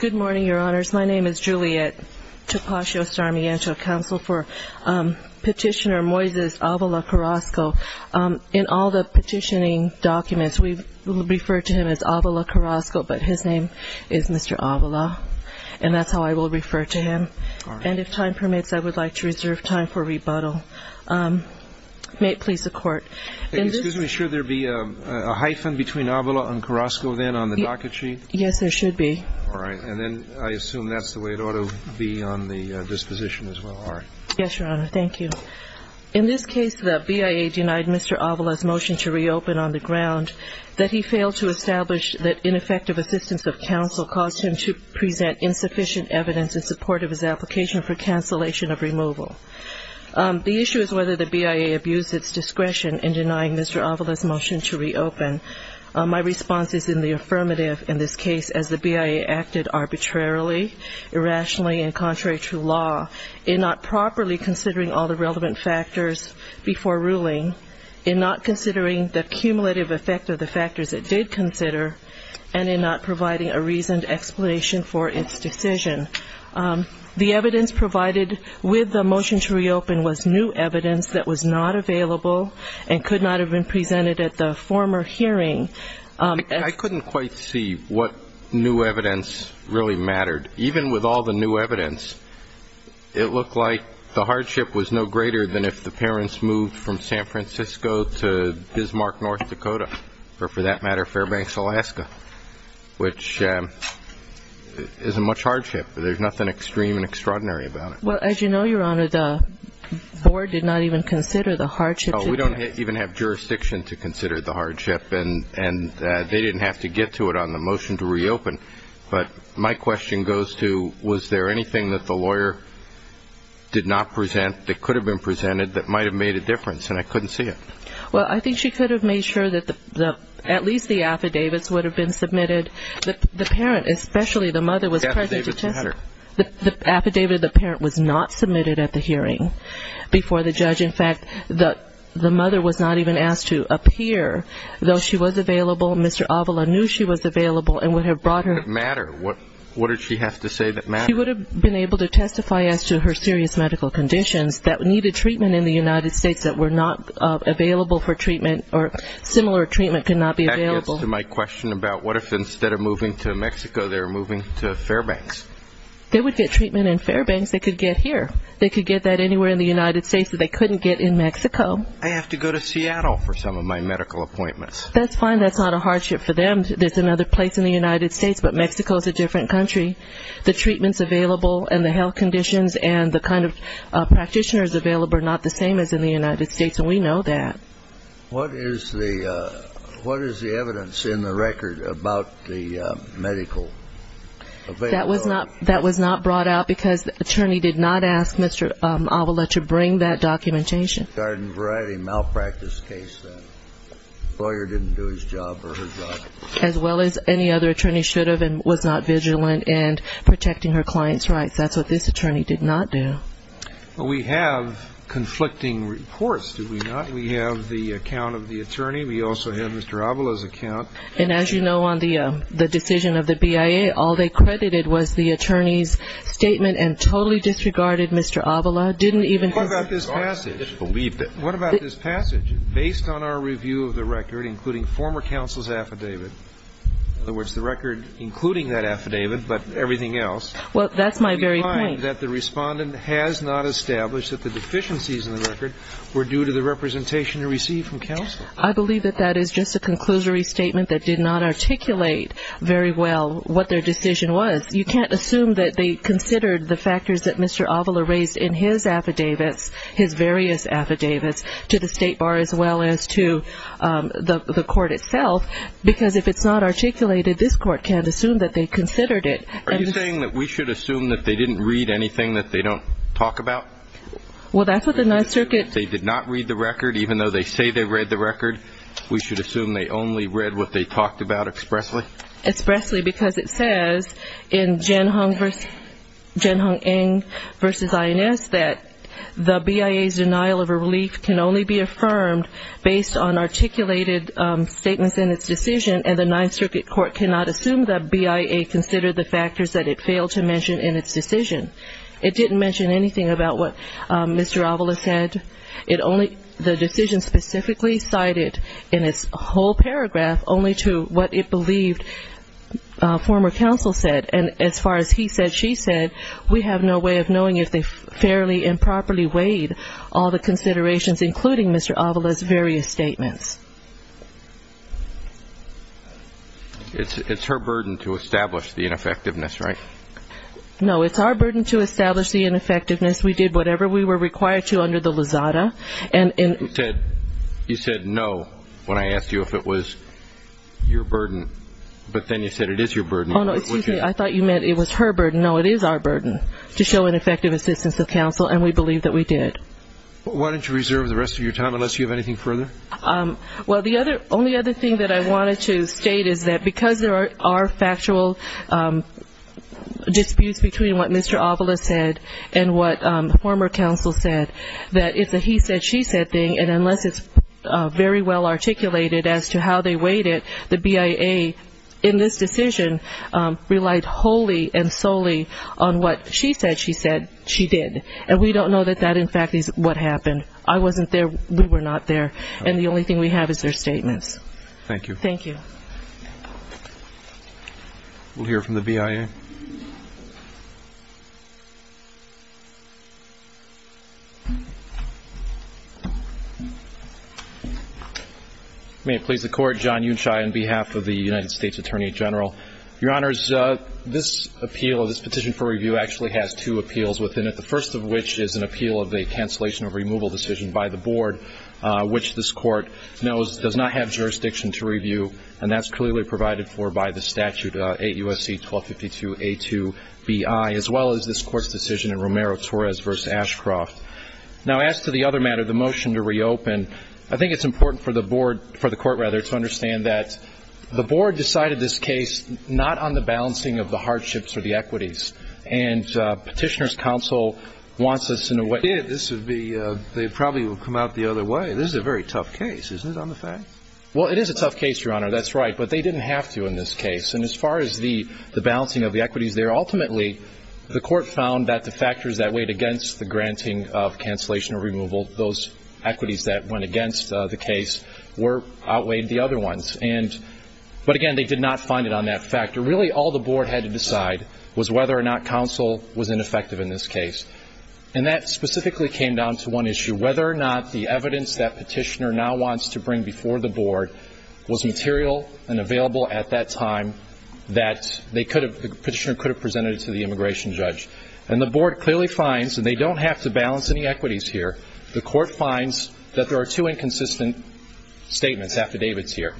Good morning, Your Honors. My name is Juliet Tapascio-Sarmiento, Counsel for Petitioner Moises Avila Carrasco. In all the petitioning documents, we refer to him as Avila Carrasco, but his name is Mr. Avila, and that's how I will refer to him. And if time permits, I would like to reserve time for rebuttal. May it please the Court. Excuse me. Should there be a hyphen between Avila and Carrasco then on the docket sheet? Yes, there should be. All right. And then I assume that's the way it ought to be on the disposition as well. All right. Yes, Your Honor. Thank you. In this case, the BIA denied Mr. Avila's motion to reopen on the ground that he failed to establish that ineffective assistance of counsel caused him to present insufficient evidence in support of his application for cancellation of removal. The issue is whether the BIA abused its discretion in denying Mr. Avila's motion to reopen. My response is in the affirmative in this case as the BIA acted arbitrarily, irrationally, and contrary to law in not properly considering all the relevant factors before ruling, in not considering the cumulative effect of the factors it did consider, and in not providing a reasoned explanation for its decision. The evidence provided with the motion to reopen was new evidence that was not available and could not have been presented at the former hearing. I couldn't quite see what new evidence really mattered. Even with all the new evidence, it looked like the hardship was no greater than if the parents moved from San Francisco to Bismarck, North Dakota, or for that matter, Fairbanks, Alaska, which isn't much hardship. There's nothing extreme and extraordinary about it. Well, as you know, Your Honor, the board did not even consider the hardship. Oh, we don't even have jurisdiction to consider the hardship, and they didn't have to get to it on the motion to reopen. But my question goes to was there anything that the lawyer did not present that could have been presented that might have made a difference, and I couldn't see it. Well, I think she could have made sure that at least the affidavits would have been submitted. The parent, especially the mother, was present to test. Affidavits matter. The affidavit of the parent was not submitted at the hearing before the judge. In fact, the mother was not even asked to appear, though she was available. Mr. Avila knew she was available and would have brought her. What did she have to say that mattered? She would have been able to testify as to her serious medical conditions that needed treatment in the United States that were not available for treatment or similar treatment could not be available. That gets to my question about what if instead of moving to Mexico they were moving to Fairbanks? They would get treatment in Fairbanks. They could get here. They could get that anywhere in the United States that they couldn't get in Mexico. I have to go to Seattle for some of my medical appointments. That's fine. That's not a hardship for them. There's another place in the United States, but Mexico is a different country. The treatments available and the health conditions and the kind of practitioners available are not the same as in the United States, and we know that. What is the evidence in the record about the medical availability? That was not brought out because the attorney did not ask Mr. Avila to bring that documentation. Garden variety malpractice case. The lawyer didn't do his job or her job. As well as any other attorney should have and was not vigilant in protecting her client's rights. That's what this attorney did not do. We have conflicting reports, do we not? We have the account of the attorney. We also have Mr. Avila's account. And as you know, on the decision of the BIA, all they credited was the attorney's statement and totally disregarded Mr. Avila. What about this passage? What about this passage? Based on our review of the record, including former counsel's affidavit, in other words, the record including that affidavit but everything else. Well, that's my very point. I believe that the respondent has not established that the deficiencies in the record were due to the representation he received from counsel. I believe that that is just a conclusory statement that did not articulate very well what their decision was. You can't assume that they considered the factors that Mr. Avila raised in his affidavits, his various affidavits, to the State Bar as well as to the court itself, because if it's not articulated, this court can't assume that they considered it. Are you saying that we should assume that they didn't read anything that they don't talk about? Well, that's what the Ninth Circuit... They did not read the record even though they say they read the record? We should assume they only read what they talked about expressly? Expressly because it says in Jianhong Eng v. INS that the BIA's denial of a relief can only be affirmed based on articulated statements in its decision, and the Ninth Circuit court cannot assume that BIA considered the factors that it failed to mention in its decision. It didn't mention anything about what Mr. Avila said. The decision specifically cited in its whole paragraph only to what it believed former counsel said, and as far as he said, she said, we have no way of knowing if they fairly and properly weighed all the considerations, including Mr. Avila's various statements. It's her burden to establish the ineffectiveness, right? No, it's our burden to establish the ineffectiveness. We did whatever we were required to under the Lizada. You said no when I asked you if it was your burden, but then you said it is your burden. Oh, no, excuse me, I thought you meant it was her burden. No, it is our burden to show an effective assistance of counsel, and we believe that we did. Why don't you reserve the rest of your time unless you have anything further? Well, the only other thing that I wanted to state is that because there are factual disputes between what Mr. Avila said and what former counsel said, that it's a he said, she said thing, and unless it's very well articulated as to how they weighed it, the BIA in this decision relied wholly and solely on what she said she said she did, and we don't know that that, in fact, is what happened. I wasn't there. We were not there, and the only thing we have is their statements. Thank you. Thank you. We'll hear from the BIA. May it please the Court. John Yunshai on behalf of the United States Attorney General. Your Honors, this appeal, this petition for review actually has two appeals within it, the first of which is an appeal of a cancellation of removal decision by the Board, which this Court knows does not have jurisdiction to review, and that's clearly provided for by the statute, 8 U.S.C. 1252, B.I., as well as this Court's decision in Romero-Torres v. Ashcroft. Now, as to the other matter, the motion to reopen, I think it's important for the Board, for the Court rather, to understand that the Board decided this case not on the balancing of the hardships or the equities, and Petitioner's counsel wants us in a way. They did. This would be, they probably would have come out the other way. This is a very tough case, isn't it, on the fact? Well, it is a tough case, Your Honor, that's right, but they didn't have to in this case, and as far as the balancing of the equities there, ultimately, the Court found that the factors that weighed against the granting of cancellation or removal, those equities that went against the case outweighed the other ones, but again, they did not find it on that factor. Really, all the Board had to decide was whether or not counsel was ineffective in this case, and that specifically came down to one issue, whether or not the evidence that Petitioner now wants to bring before the Board was material and available at that time that Petitioner could have presented to the immigration judge. And the Board clearly finds that they don't have to balance any equities here. The Court finds that there are two inconsistent statements, affidavits here.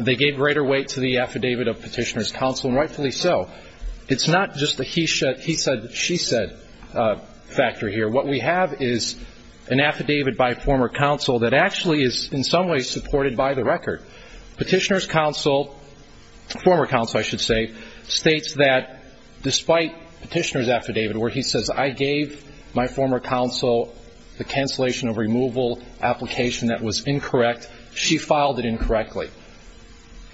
They gave greater weight to the affidavit of Petitioner's counsel, and rightfully so. It's not just the he said, she said factor here. What we have is an affidavit by former counsel that actually is in some ways supported by the record. Petitioner's counsel, former counsel I should say, states that despite Petitioner's affidavit where he says I gave my former counsel the cancellation or removal application that was incorrect, she filed it incorrectly.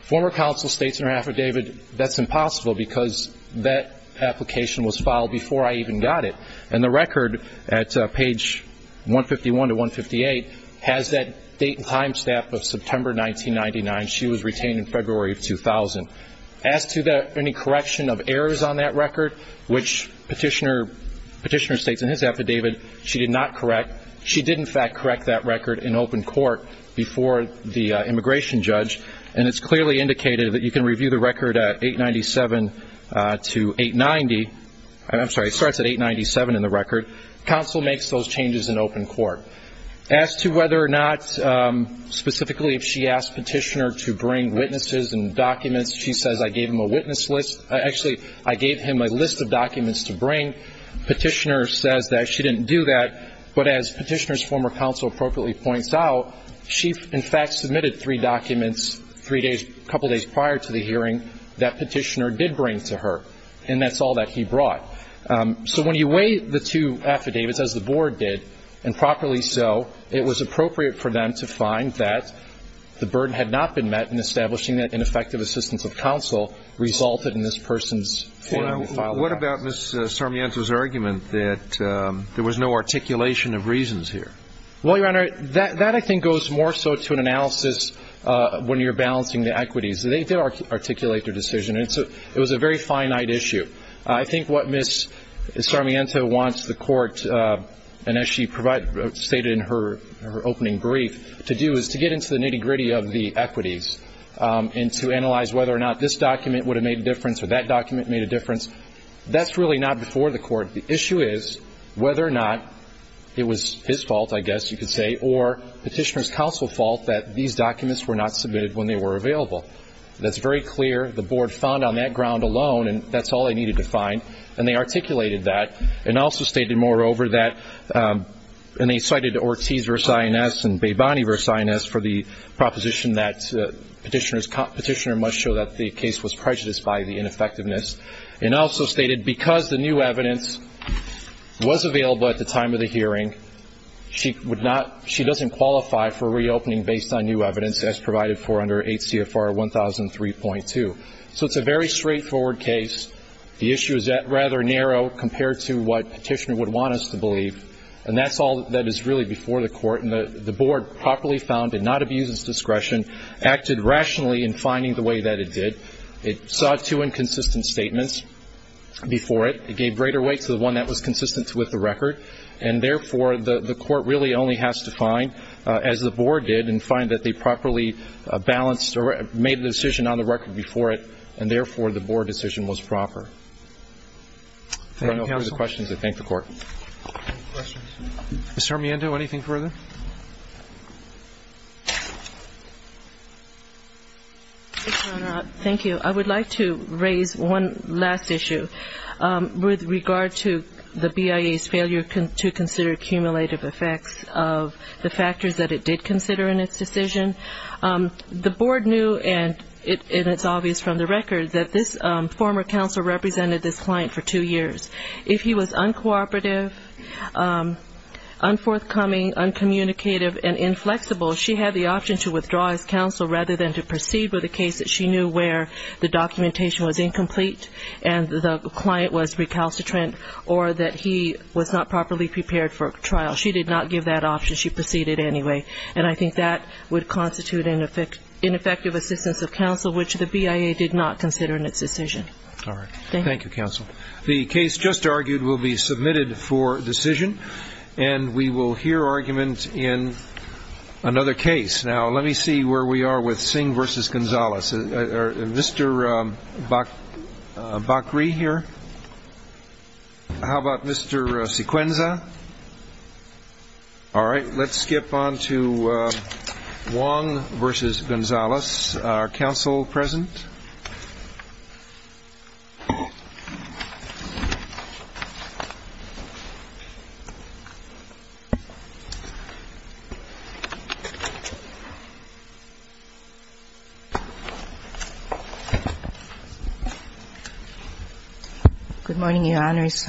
Former counsel states in her affidavit that's impossible because that application was filed before I even got it. And the record at page 151 to 158 has that date and time stamp of September 1999. She was retained in February of 2000. As to any correction of errors on that record, which Petitioner states in his affidavit she did not correct, she did in fact correct that record in open court before the immigration judge. And it's clearly indicated that you can review the record at 897 to 890. I'm sorry, it starts at 897 in the record. Counsel makes those changes in open court. As to whether or not specifically if she asked Petitioner to bring witnesses and documents, she says I gave him a witness list. Actually, I gave him a list of documents to bring. Petitioner says that she didn't do that. But as Petitioner's former counsel appropriately points out, she in fact submitted three documents a couple days prior to the hearing that Petitioner did bring to her, and that's all that he brought. So when you weigh the two affidavits, as the Board did, and properly so, it was appropriate for them to find that the burden had not been met in establishing that ineffective assistance of counsel resulted in this person's failure to file the request. What about Ms. Sarmiento's argument that there was no articulation of reasons here? Well, Your Honor, that I think goes more so to an analysis when you're balancing the equities. They articulate their decision. It was a very finite issue. I think what Ms. Sarmiento wants the court, and as she stated in her opening brief, to do is to get into the nitty-gritty of the equities and to analyze whether or not this document would have made a difference or that document made a difference. That's really not before the court. The issue is whether or not it was his fault, I guess you could say, or Petitioner's counsel's fault that these documents were not submitted when they were available. That's very clear. The Board found on that ground alone, and that's all they needed to find, and they articulated that and also stated, moreover, that, and they cited Ortiz v. INS and Beboni v. INS for the proposition that Petitioner must show that the case was prejudiced by the ineffectiveness, and also stated because the new evidence was available at the time of the hearing, she doesn't qualify for reopening based on new evidence as provided for under 8 CFR 1003.2. So it's a very straightforward case. The issue is rather narrow compared to what Petitioner would want us to believe, and that's all that is really before the court. And the Board properly found it not abused its discretion, acted rationally in finding the way that it did. It sought two inconsistent statements before it. It gave greater weight to the one that was consistent with the record, and therefore the court really only has to find, as the Board did, and find that they properly balanced or made the decision on the record before it, and therefore the Board decision was proper. If there are no further questions, I thank the Court. Mr. Armando, anything further? Thank you. I would like to raise one last issue with regard to the BIA's failure to consider cumulative effects of the factors that it did consider in its decision. The Board knew, and it's obvious from the record, that this former counsel represented this client for two years. If he was uncooperative, unforthcoming, uncommunicative, and inflexible, she had the option to withdraw as counsel rather than to proceed with a case that she knew where the documentation was incomplete and the client was recalcitrant or that he was not properly prepared for trial. She did not give that option. She proceeded anyway. And I think that would constitute an ineffective assistance of counsel, which the BIA did not consider in its decision. All right. Thank you, counsel. The case just argued will be submitted for decision, and we will hear argument in another case. Now, let me see where we are with Singh v. Gonzalez. Is Mr. Bakri here? How about Mr. Sequenza? All right. Let's skip on to Wong v. Gonzalez, our counsel present. Good morning, Your Honors.